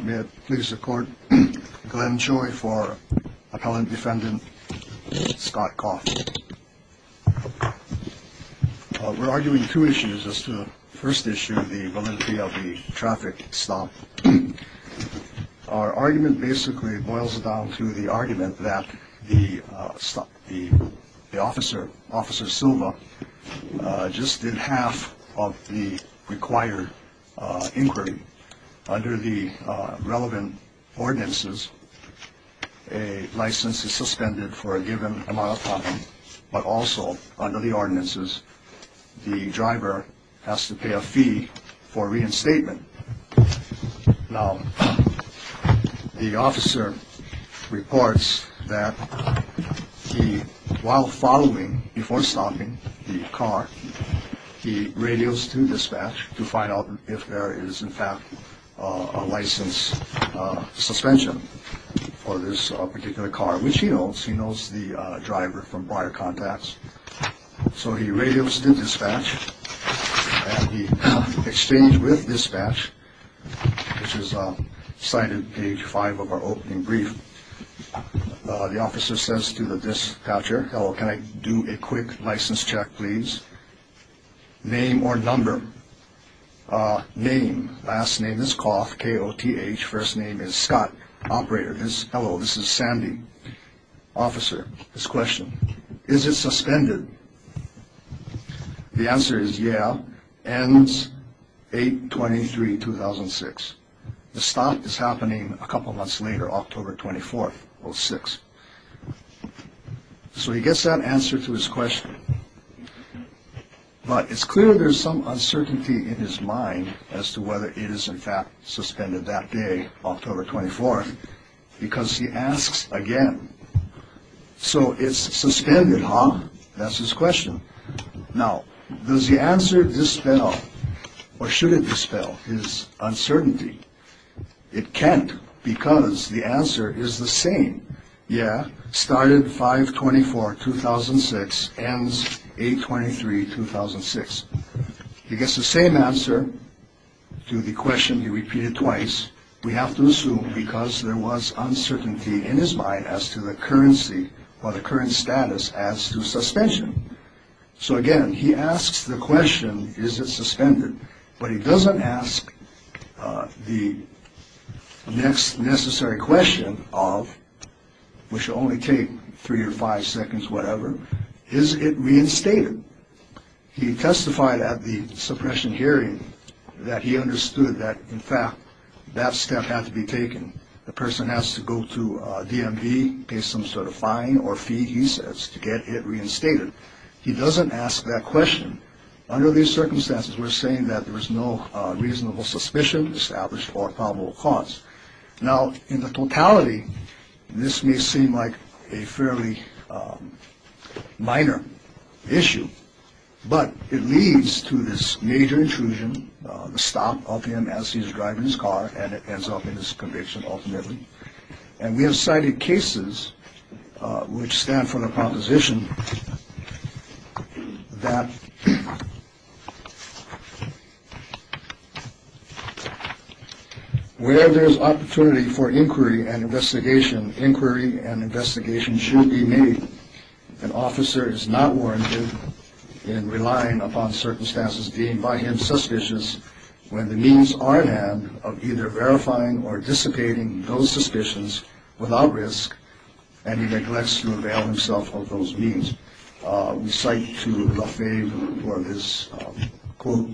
May it please the court, Glenn Choi for Appellant Defendant Scott Koth. We're arguing two issues as to the first issue, the validity of the traffic stop. Our argument basically boils down to the argument that the officer, Officer Silva, just did half of the required inquiry. Under the relevant ordinances, a license is suspended for a given amount of time. But also under the ordinances, the driver has to pay a fee for reinstatement. Now, the officer reports that he while following before stopping the car, he radios to dispatch to find out if there is in fact a license suspension for this particular car, which he knows. He knows the driver from prior contacts. So he radios to dispatch and he exchanged with dispatch, which is cited page five of our opening brief. The officer says to the dispatcher, hello, can I do a quick license check, please? Name or number? Name. Last name is Koth, K-O-T-H. First name is Scott. Operator is hello. This is Sandy. Officer, his question, is it suspended? The answer is yeah. Ends 8-23-2006. The stop is happening a couple months later, October 24th, 06. So he gets that answer to his question. But it's clear there's some uncertainty in his mind as to whether it is in fact suspended that day, October 24th, because he asks again. So it's suspended, huh? That's his question. Now, does the answer dispel or should it dispel his uncertainty? It can't because the answer is the same. Yeah, started 5-24-2006, ends 8-23-2006. He gets the same answer to the question he repeated twice. We have to assume because there was uncertainty in his mind as to the currency or the current status as to suspension. So, again, he asks the question, is it suspended? But he doesn't ask the next necessary question of which only take three or five seconds, whatever. Is it reinstated? He testified at the suppression hearing that he understood that, in fact, that step had to be taken. The person has to go to DMV, pay some sort of fine or fee, he says, to get it reinstated. He doesn't ask that question. Under these circumstances, we're saying that there is no reasonable suspicion established or probable cause. Now, in the totality, this may seem like a fairly minor issue, but it leads to this major intrusion, the stop of him as he's driving his car. And it ends up in his conviction, ultimately. And we have cited cases which stand for the proposition that where there is opportunity for inquiry and investigation, inquiry and investigation should be made. An officer is not warranted in relying upon circumstances deemed by him suspicious when the means are at hand of either verifying or dissipating those suspicions without risk. And he neglects to avail himself of those means. We cite to Lafay for this quote,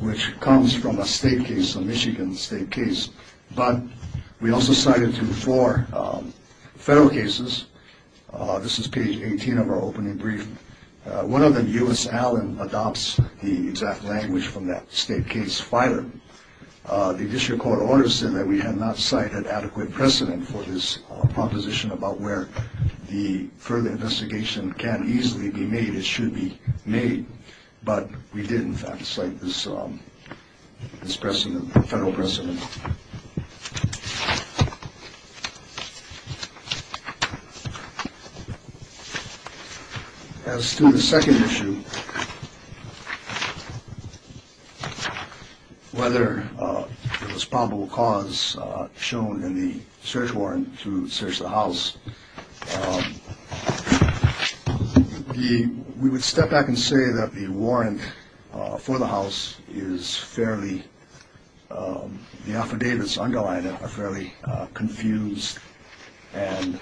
which comes from a state case, a Michigan state case. But we also cited to four federal cases. This is page 18 of our opening brief. One of them, U.S. Allen, adopts the exact language from that state case filer. The district court order said that we had not cited adequate precedent for this proposition about where the further investigation can easily be made, it should be made. But we did, in fact, say this is pressing the federal president. As to the second issue, whether it was probable cause shown in the search warrant to search the house. We would step back and say that the warrant for the house is fairly. The affidavits underline are fairly confused and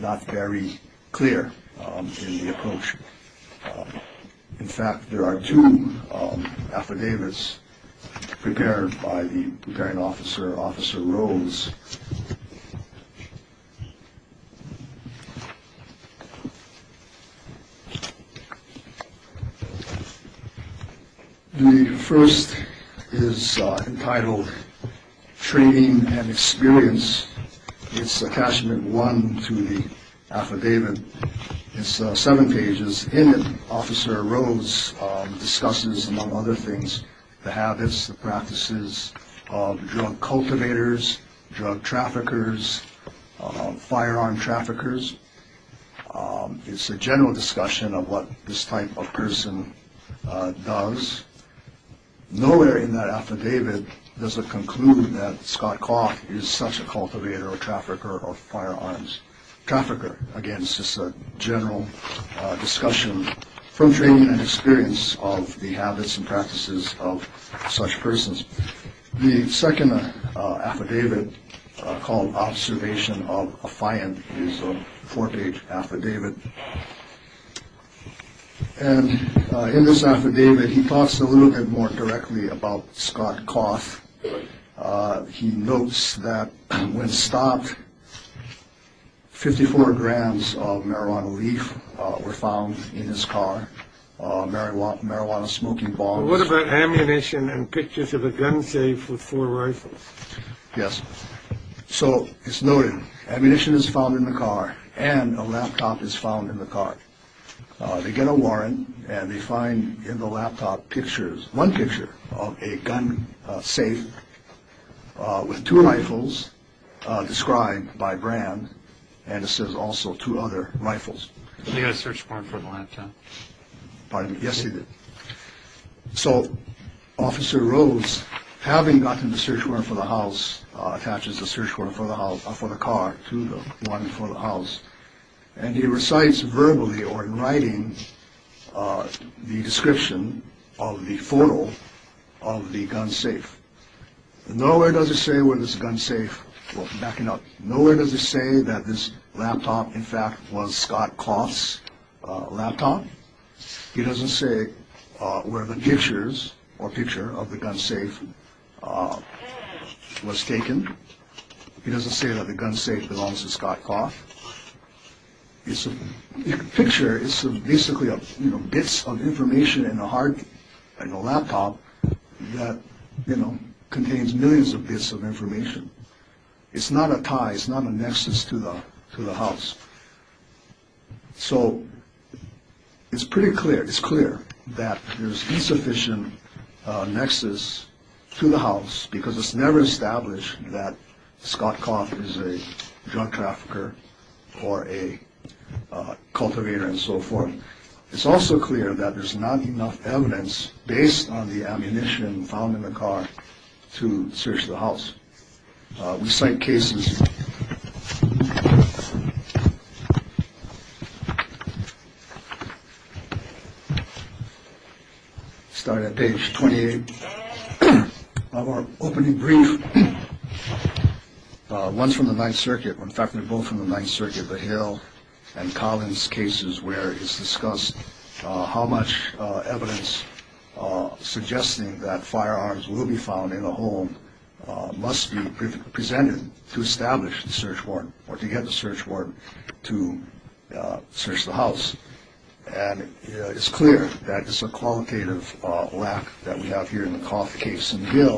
not very clear in the approach. In fact, there are two affidavits prepared by the grand officer, Officer Rose. The first is entitled Training and Experience. It's a catchment one to the affidavit. It's seven pages in. Officer Rose discusses, among other things, the habits, the practices of drug cultivators, drug traffickers, firearm traffickers. It's a general discussion of what this type of person does. Nowhere in that affidavit does it conclude that Scott Coff is such a cultivator or trafficker or firearms trafficker. Again, it's just a general discussion from training and experience of the habits and practices of such persons. The second affidavit called Observation of a Fire is a four page affidavit. And in this affidavit, he talks a little bit more directly about Scott Coff. He notes that when stopped, 54 grams of marijuana leaf were found in his car. Marijuana, marijuana smoking bombs. What about ammunition and pictures of a gun safe with four rifles? Yes. So it's noted ammunition is found in the car and a laptop is found in the car. They get a warrant and they find in the laptop pictures, one picture of a gun safe with two rifles described by brand. And it says also two other rifles. They got a search warrant for the laptop. Pardon me. Yes, they did. So Officer Rose, having gotten the search warrant for the house, attaches the search warrant for the house for the car to the one for the house. And he recites verbally or in writing the description of the photo of the gun safe. Nowhere does it say where this gun safe was backing up. Nowhere does it say that this laptop, in fact, was Scott Coff's laptop. He doesn't say where the pictures or picture of the gun safe was taken. He doesn't say that the gun safe belongs to Scott Coff. It's a picture. It's basically bits of information in a hard, in a laptop that, you know, contains millions of bits of information. It's not a tie. It's not a nexus to the house. So it's pretty clear. It's clear that there's insufficient nexus to the house because it's never established that Scott Coff is a drug trafficker or a cultivator and so forth. It's also clear that there's not enough evidence based on the ammunition found in the car to search the house. We cite cases. Start at page 28 of our opening brief. Once from the Ninth Circuit, in fact, they're both from the Ninth Circuit, and Collins cases where it's discussed how much evidence suggesting that firearms will be found in the home must be presented to establish the search warrant or to get the search warrant to search the house. And it's clear that it's a qualitative lack that we have here in the Coff case. There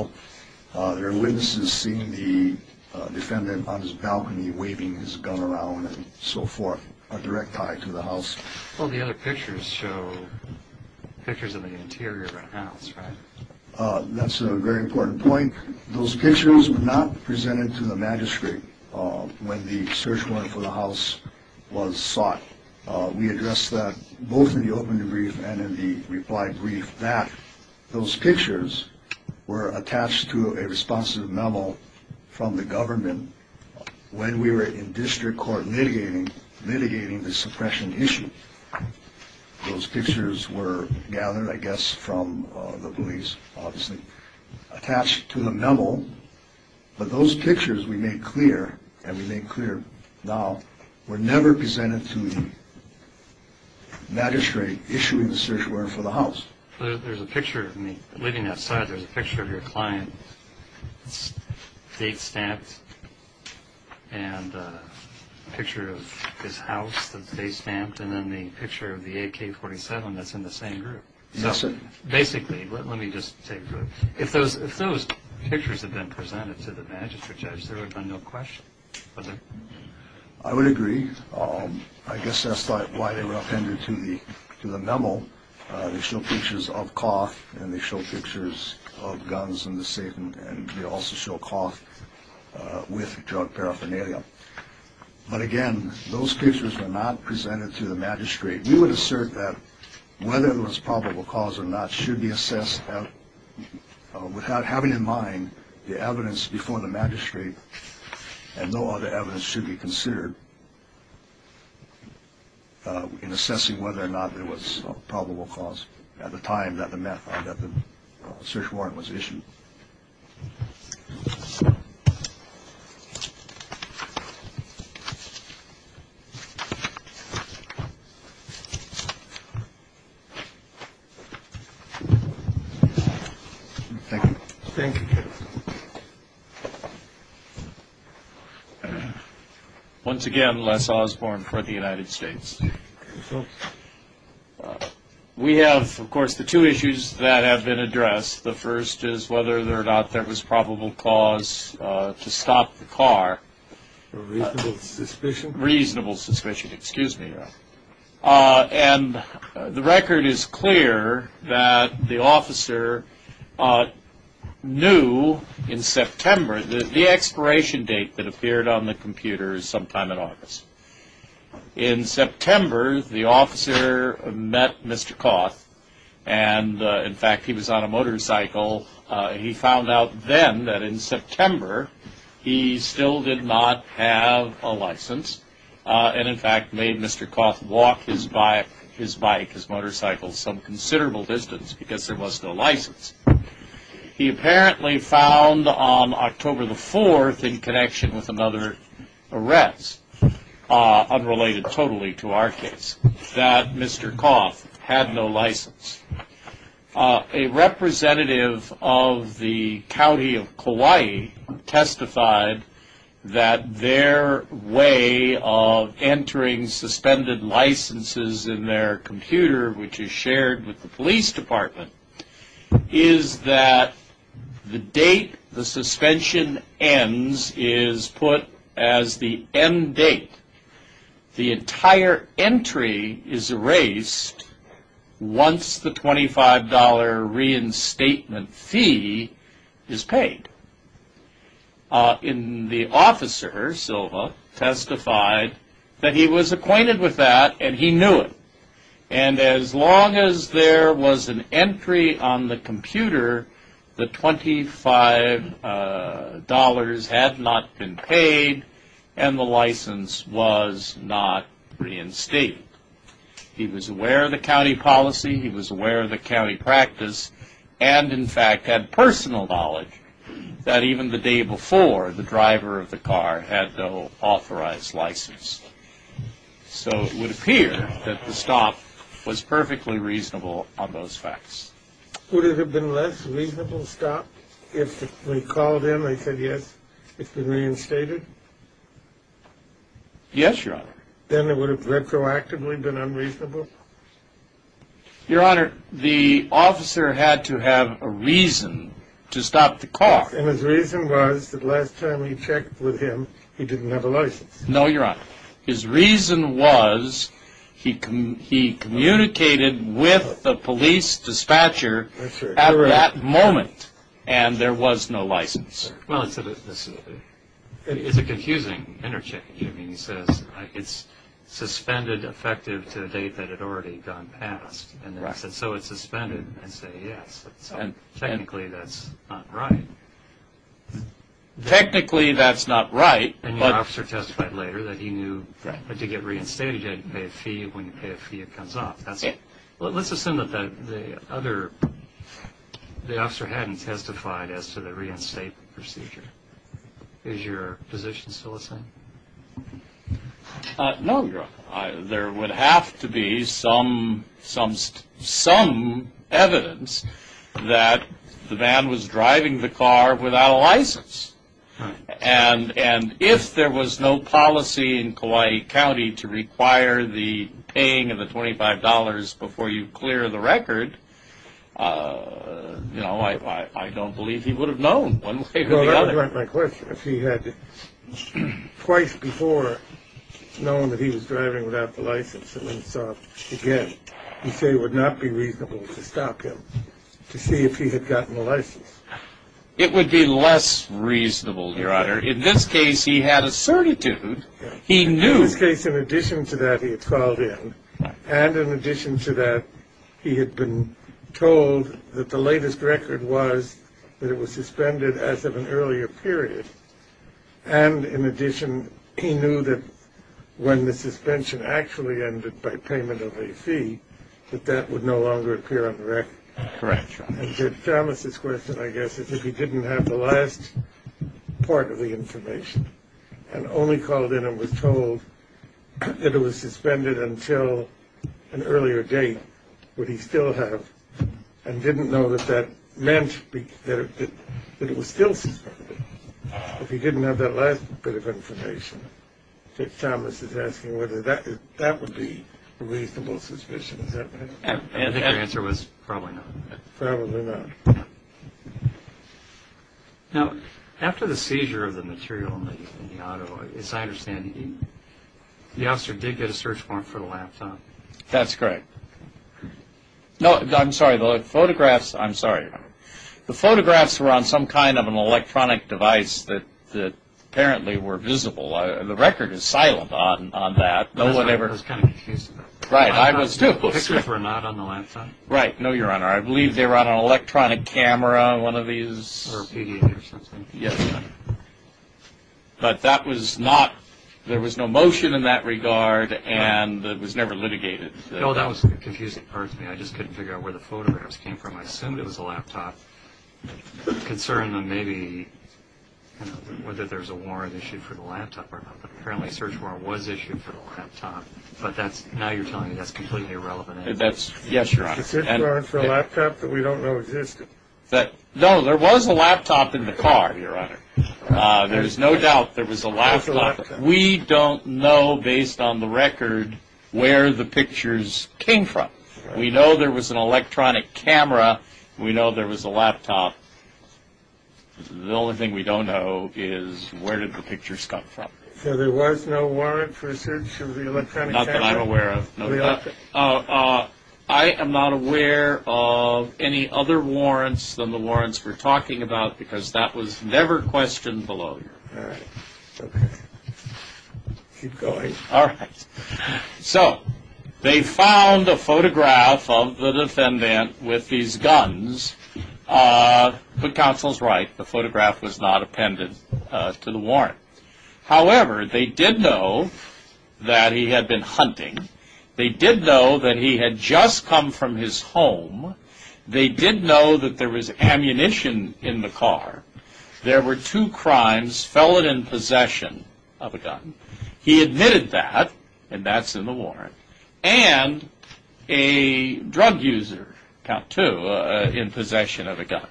are witnesses seeing the defendant on his balcony waving his gun around and so forth. A direct tie to the house. Well, the other pictures show pictures of the interior of a house. That's a very important point. Those pictures were not presented to the magistrate when the search warrant for the house was sought. We address that both in the opening brief and in the reply brief that those pictures were attached to a responsive memo from the government. When we were in district court litigating, litigating the suppression issue, those pictures were gathered, I guess, from the police, obviously attached to the memo. But those pictures we made clear, and we made clear now, were never presented to the magistrate issuing the search warrant for the house. There's a picture of me living outside. There's a picture of your client, date stamped, and a picture of his house that's date stamped, and then the picture of the AK-47 that's in the same group. Yes, sir. Basically, let me just say, if those pictures had been presented to the magistrate judge, there would have been no question, would there? I would agree. I guess that's why they were appended to the memo. They show pictures of cough, and they show pictures of guns in the safe, and they also show cough with drug paraphernalia. But, again, those pictures were not presented to the magistrate. We would assert that whether it was probable cause or not should be assessed without having in mind the evidence before the magistrate And no other evidence should be considered in assessing whether or not it was probable cause at the time that the search warrant was issued. Thank you. Thank you. Once again, Les Osborne for the United States. We have, of course, the two issues that have been addressed. The first is whether or not there was probable cause to stop the car. Reasonable suspicion. Reasonable suspicion, excuse me. And the record is clear that the officer knew in September the expiration date that appeared on the computer sometime in August. In September, the officer met Mr. Coth, and, in fact, he was on a motorcycle. He found out then that in September he still did not have a license and, in fact, made Mr. Coth walk his bike, his motorcycle, some considerable distance because there was no license. He apparently found on October the 4th, in connection with another arrest, unrelated totally to our case, that Mr. Coth had no license. A representative of the county of Kauai testified that their way of entering suspended licenses in their computer, which is shared with the police department, is that the date the suspension ends is put as the end date. The entire entry is erased once the $25 reinstatement fee is paid. And the officer, Silva, testified that he was acquainted with that and he knew it. And as long as there was an entry on the computer, the $25 had not been paid and the license was not reinstated. He was aware of the county policy. He was aware of the county practice and, in fact, had personal knowledge that even the day before the driver of the car had no authorized license. So it would appear that the stop was perfectly reasonable on those facts. Would it have been a less reasonable stop if we called in and said, yes, it's been reinstated? Yes, Your Honor. Then it would have retroactively been unreasonable? Your Honor, the officer had to have a reason to stop the car. And his reason was that last time he checked with him, he didn't have a license. No, Your Honor. His reason was he communicated with the police dispatcher at that moment and there was no license. Well, it's a confusing interchange. I mean, he says it's suspended effective to a date that had already gone past. And then he says, so it's suspended. And I say, yes, technically that's not right. Technically that's not right. And your officer testified later that he knew that to get reinstated, you had to pay a fee. When you pay a fee, it comes off. That's it. Well, let's assume that the other – the officer hadn't testified as to the reinstate procedure. Is your position still the same? No, Your Honor. There would have to be some evidence that the man was driving the car without a license. And if there was no policy in Kauai County to require the paying of the $25 before you clear the record, you know, I don't believe he would have known one way or the other. Well, that would be my question. If he had twice before known that he was driving without the license and then saw it again, you say it would not be reasonable to stop him to see if he had gotten a license? It would be less reasonable, Your Honor. In this case, he had a certitude. He knew. In this case, in addition to that, he had called in. And in addition to that, he had been told that the latest record was that it was suspended as of an earlier period. And in addition, he knew that when the suspension actually ended by payment of a fee, that that would no longer appear on the record. Correct, Your Honor. Thomas's question, I guess, is if he didn't have the last part of the information and only called in and was told that it was suspended until an earlier date, would he still have and didn't know that that meant that it was still suspended? If he didn't have that last bit of information, Thomas is asking whether that would be a reasonable suspicion. I think the answer was probably not. Probably not. Now, after the seizure of the material in the auto, as I understand, the officer did get a search warrant for the laptop. That's correct. No, I'm sorry. The photographs, I'm sorry. The photographs were on some kind of an electronic device that apparently were visible. The record is silent on that. I was kind of confused about that. Right. I was too. The pictures were not on the laptop? Right. No, Your Honor. I believe they were on an electronic camera, one of these. Or a PD or something. Yes, Your Honor. But that was not, there was no motion in that regard, and it was never litigated. No, that was the confusing part for me. I just couldn't figure out where the photographs came from. I assumed it was the laptop. The concern then may be whether there's a warrant issued for the laptop or not, but apparently a search warrant was issued for the laptop, but now you're telling me that's completely irrelevant. Yes, Your Honor. A search warrant for a laptop that we don't know existed. No, there was a laptop in the car, Your Honor. There is no doubt there was a laptop. We don't know, based on the record, where the pictures came from. We know there was an electronic camera. We know there was a laptop. The only thing we don't know is where did the pictures come from. So there was no warrant for a search of the electronic camera? Not that I'm aware of. I am not aware of any other warrants than the warrants we're talking about because that was never questioned below, Your Honor. All right. Okay. Keep going. All right. So they found a photograph of the defendant with these guns. The counsel's right. The photograph was not appended to the warrant. However, they did know that he had been hunting. They did know that he had just come from his home. They did know that there was ammunition in the car. There were two crimes, felon in possession of a gun. He admitted that, and that's in the warrant, and a drug user, count two, in possession of a gun.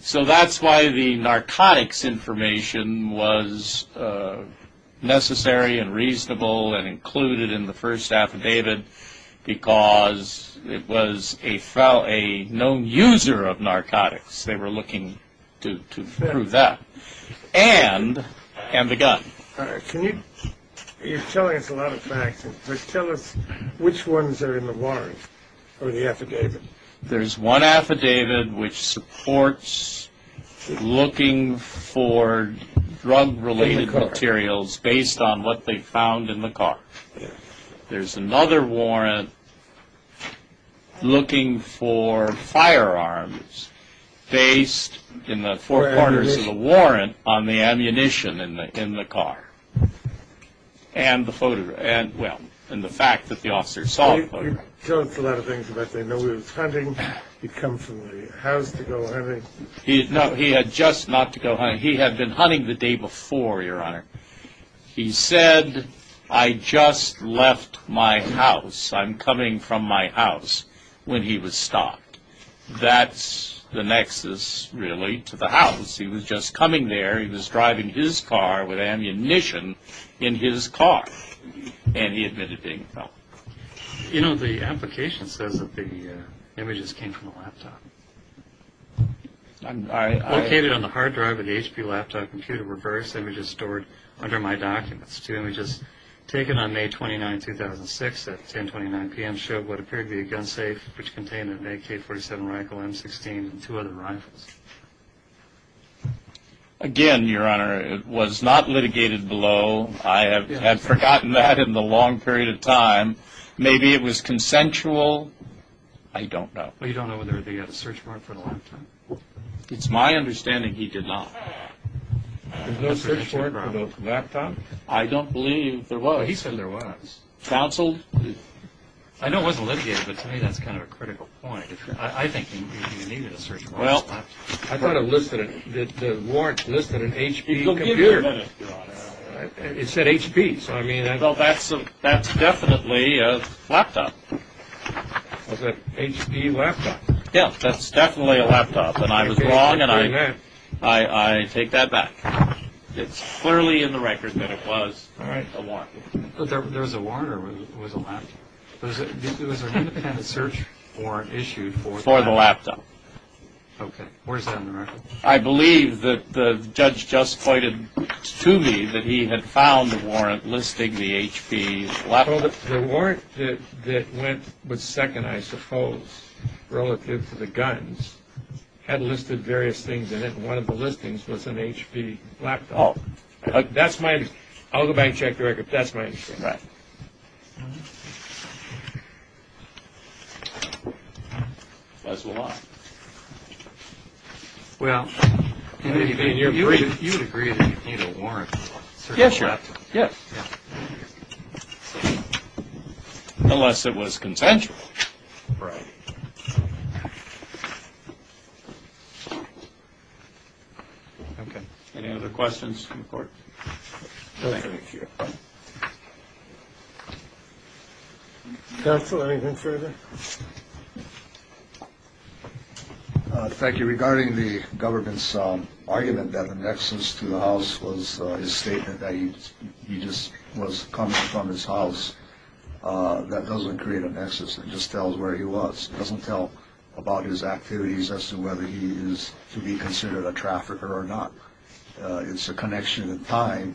So that's why the narcotics information was necessary and reasonable and included in the first affidavit because it was a known user of narcotics. They were looking to prove that. And the gun. You're telling us a lot of facts, but tell us which ones are in the warrant or the affidavit. There's one affidavit which supports looking for drug-related materials based on what they found in the car. There's another warrant looking for firearms based in the four corners of the warrant on the ammunition in the car Tell us a lot of things about that. He knew he was hunting. He'd come from the house to go hunting. No, he had just not to go hunting. He had been hunting the day before, Your Honor. He said, I just left my house. I'm coming from my house, when he was stopped. That's the nexus, really, to the house. He was just coming there. He was driving his car with ammunition in his car, and he admitted being a felon. You know, the application says that the images came from the laptop. Located on the hard drive of the HP laptop computer were various images stored under My Documents. Two images taken on May 29, 2006 at 10.29 p.m. showed what appeared to be a gun safe, which contained an AK-47 rifle, M16, and two other rifles. Again, Your Honor, it was not litigated below. I have forgotten that in the long period of time. Maybe it was consensual. I don't know. Well, you don't know whether they had a search warrant for the laptop? It's my understanding he did not. There's no search warrant for the laptop? I don't believe there was. He said there was. Counseled? I know it wasn't litigated, but to me that's kind of a critical point. I think he needed a search warrant. Well, I thought it listed it. The warrant listed an HP computer. It said HP. Well, that's definitely a laptop. Was it HP laptop? Yeah, that's definitely a laptop. And I was wrong, and I take that back. It's clearly in the record that it was a warrant. But there was a warrant or it was a laptop? It was an independent search warrant issued for the laptop. For the laptop. Okay, where's that in the record? I believe that the judge just pointed to me that he had found the warrant listing the HP laptop. The warrant that went with second, I suppose, relative to the guns, had listed various things in it, and one of the listings was an HP laptop. Oh. That's my understanding. I'll go back and check the record, but that's my understanding. Right. That's a lie. Well, you would agree that you'd need a warrant for a certain laptop. Yeah, sure. Yeah. Unless it was consensual. Right. Okay. Any other questions from the court? No, sir. Thank you. Counsel, anything further? Thank you. Regarding the government's argument that the nexus to the house was his statement that he just was coming from his house, that doesn't create a nexus. It just tells where he was. It doesn't tell about his activities as to whether he is to be considered a trafficker or not. It's a connection in time,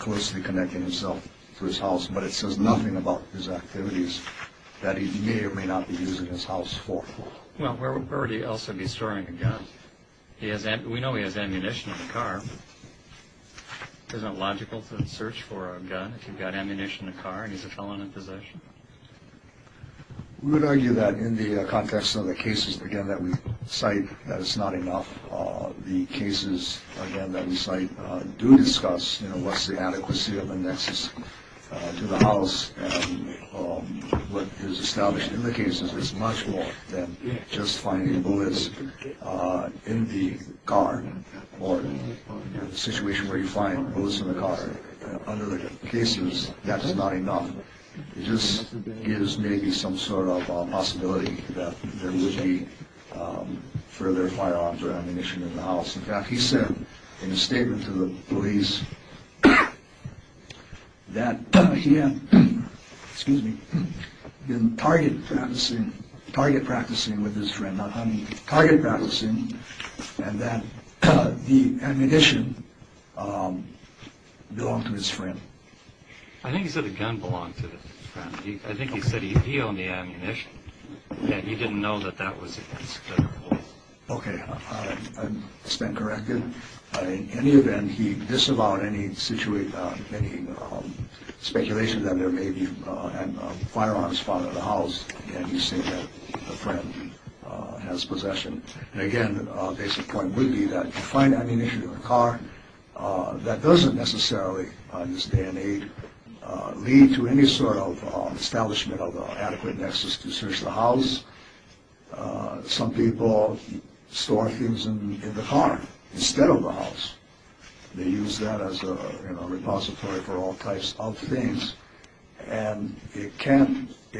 closely connecting himself to his house, but it says nothing about his activities that he may or may not be using his house for. Well, where would he also be storing a gun? We know he has ammunition in the car. Isn't it logical to search for a gun if you've got ammunition in the car and he's a felon in possession? We would argue that in the context of the cases, again, that we cite, that it's not enough. The cases, again, that we cite do discuss, you know, what's the adequacy of a nexus to the house, and what is established in the cases is much more than just finding bullets in the car or a situation where you find bullets in the car. Under the cases, that's not enough. It just gives maybe some sort of possibility that there would be further firearms or ammunition in the house. In fact, he said in a statement to the police that he had been target practicing with his friend, not hunting, target practicing, and that the ammunition belonged to his friend. I think he said the gun belonged to the friend. I think he said he owned the ammunition. He didn't know that that was his gun. Okay. It's been corrected. In any event, he disavowed any speculation that there may be firearms found in the house, and he said that the friend has possession. And again, the basic point would be that you find ammunition in the car. That doesn't necessarily, on this day and age, lead to any sort of establishment of an adequate nexus to search the house. Some people store things in the car instead of the house. They use that as a repository for all types of things, and it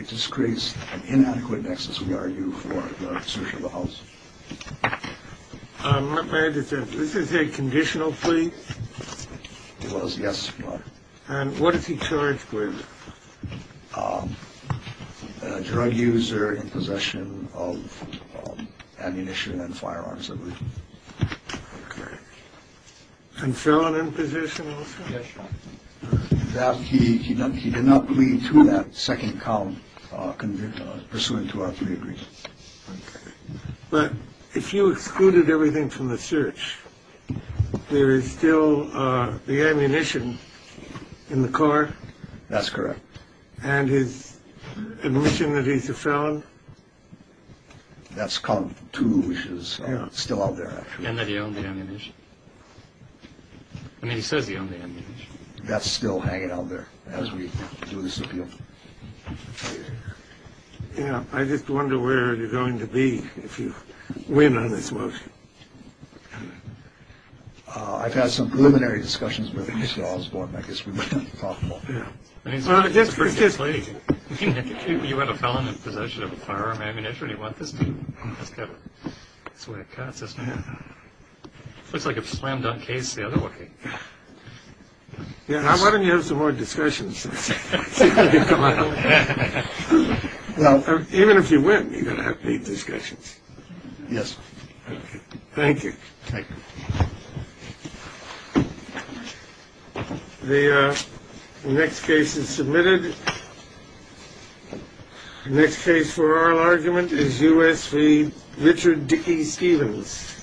just creates an inadequate nexus, we argue, for the search of the house. This is a conditional plea? It was, yes. And what is he charged with? A drug user in possession of ammunition and firearms, I believe. Okay. And felon in possession also? Yes, Your Honor. He did not plead to that second count pursuant to our three agreements. Okay. But if you excluded everything from the search, there is still the ammunition in the car? That's correct. And his admission that he's a felon? That's count two, which is still out there, actually. And that he owned the ammunition. I mean, he says he owned the ammunition. That's still hanging out there as we do this appeal. I just wonder where you're going to be if you win on this motion. I've had some preliminary discussions with Mr. Osborne. I guess we might have to talk about that. Well, just briefly. You want a felon in possession of a firearm and ammunition? Do you want this? That's what it cuts, isn't it? Looks like a slam-dunk case the other way. Why don't you have some more discussions? Even if you win, you've got to have paid discussions. Yes. Thank you. Thank you. The next case is submitted. The next case for oral argument is U.S. v. Richard Dickey-Stevens.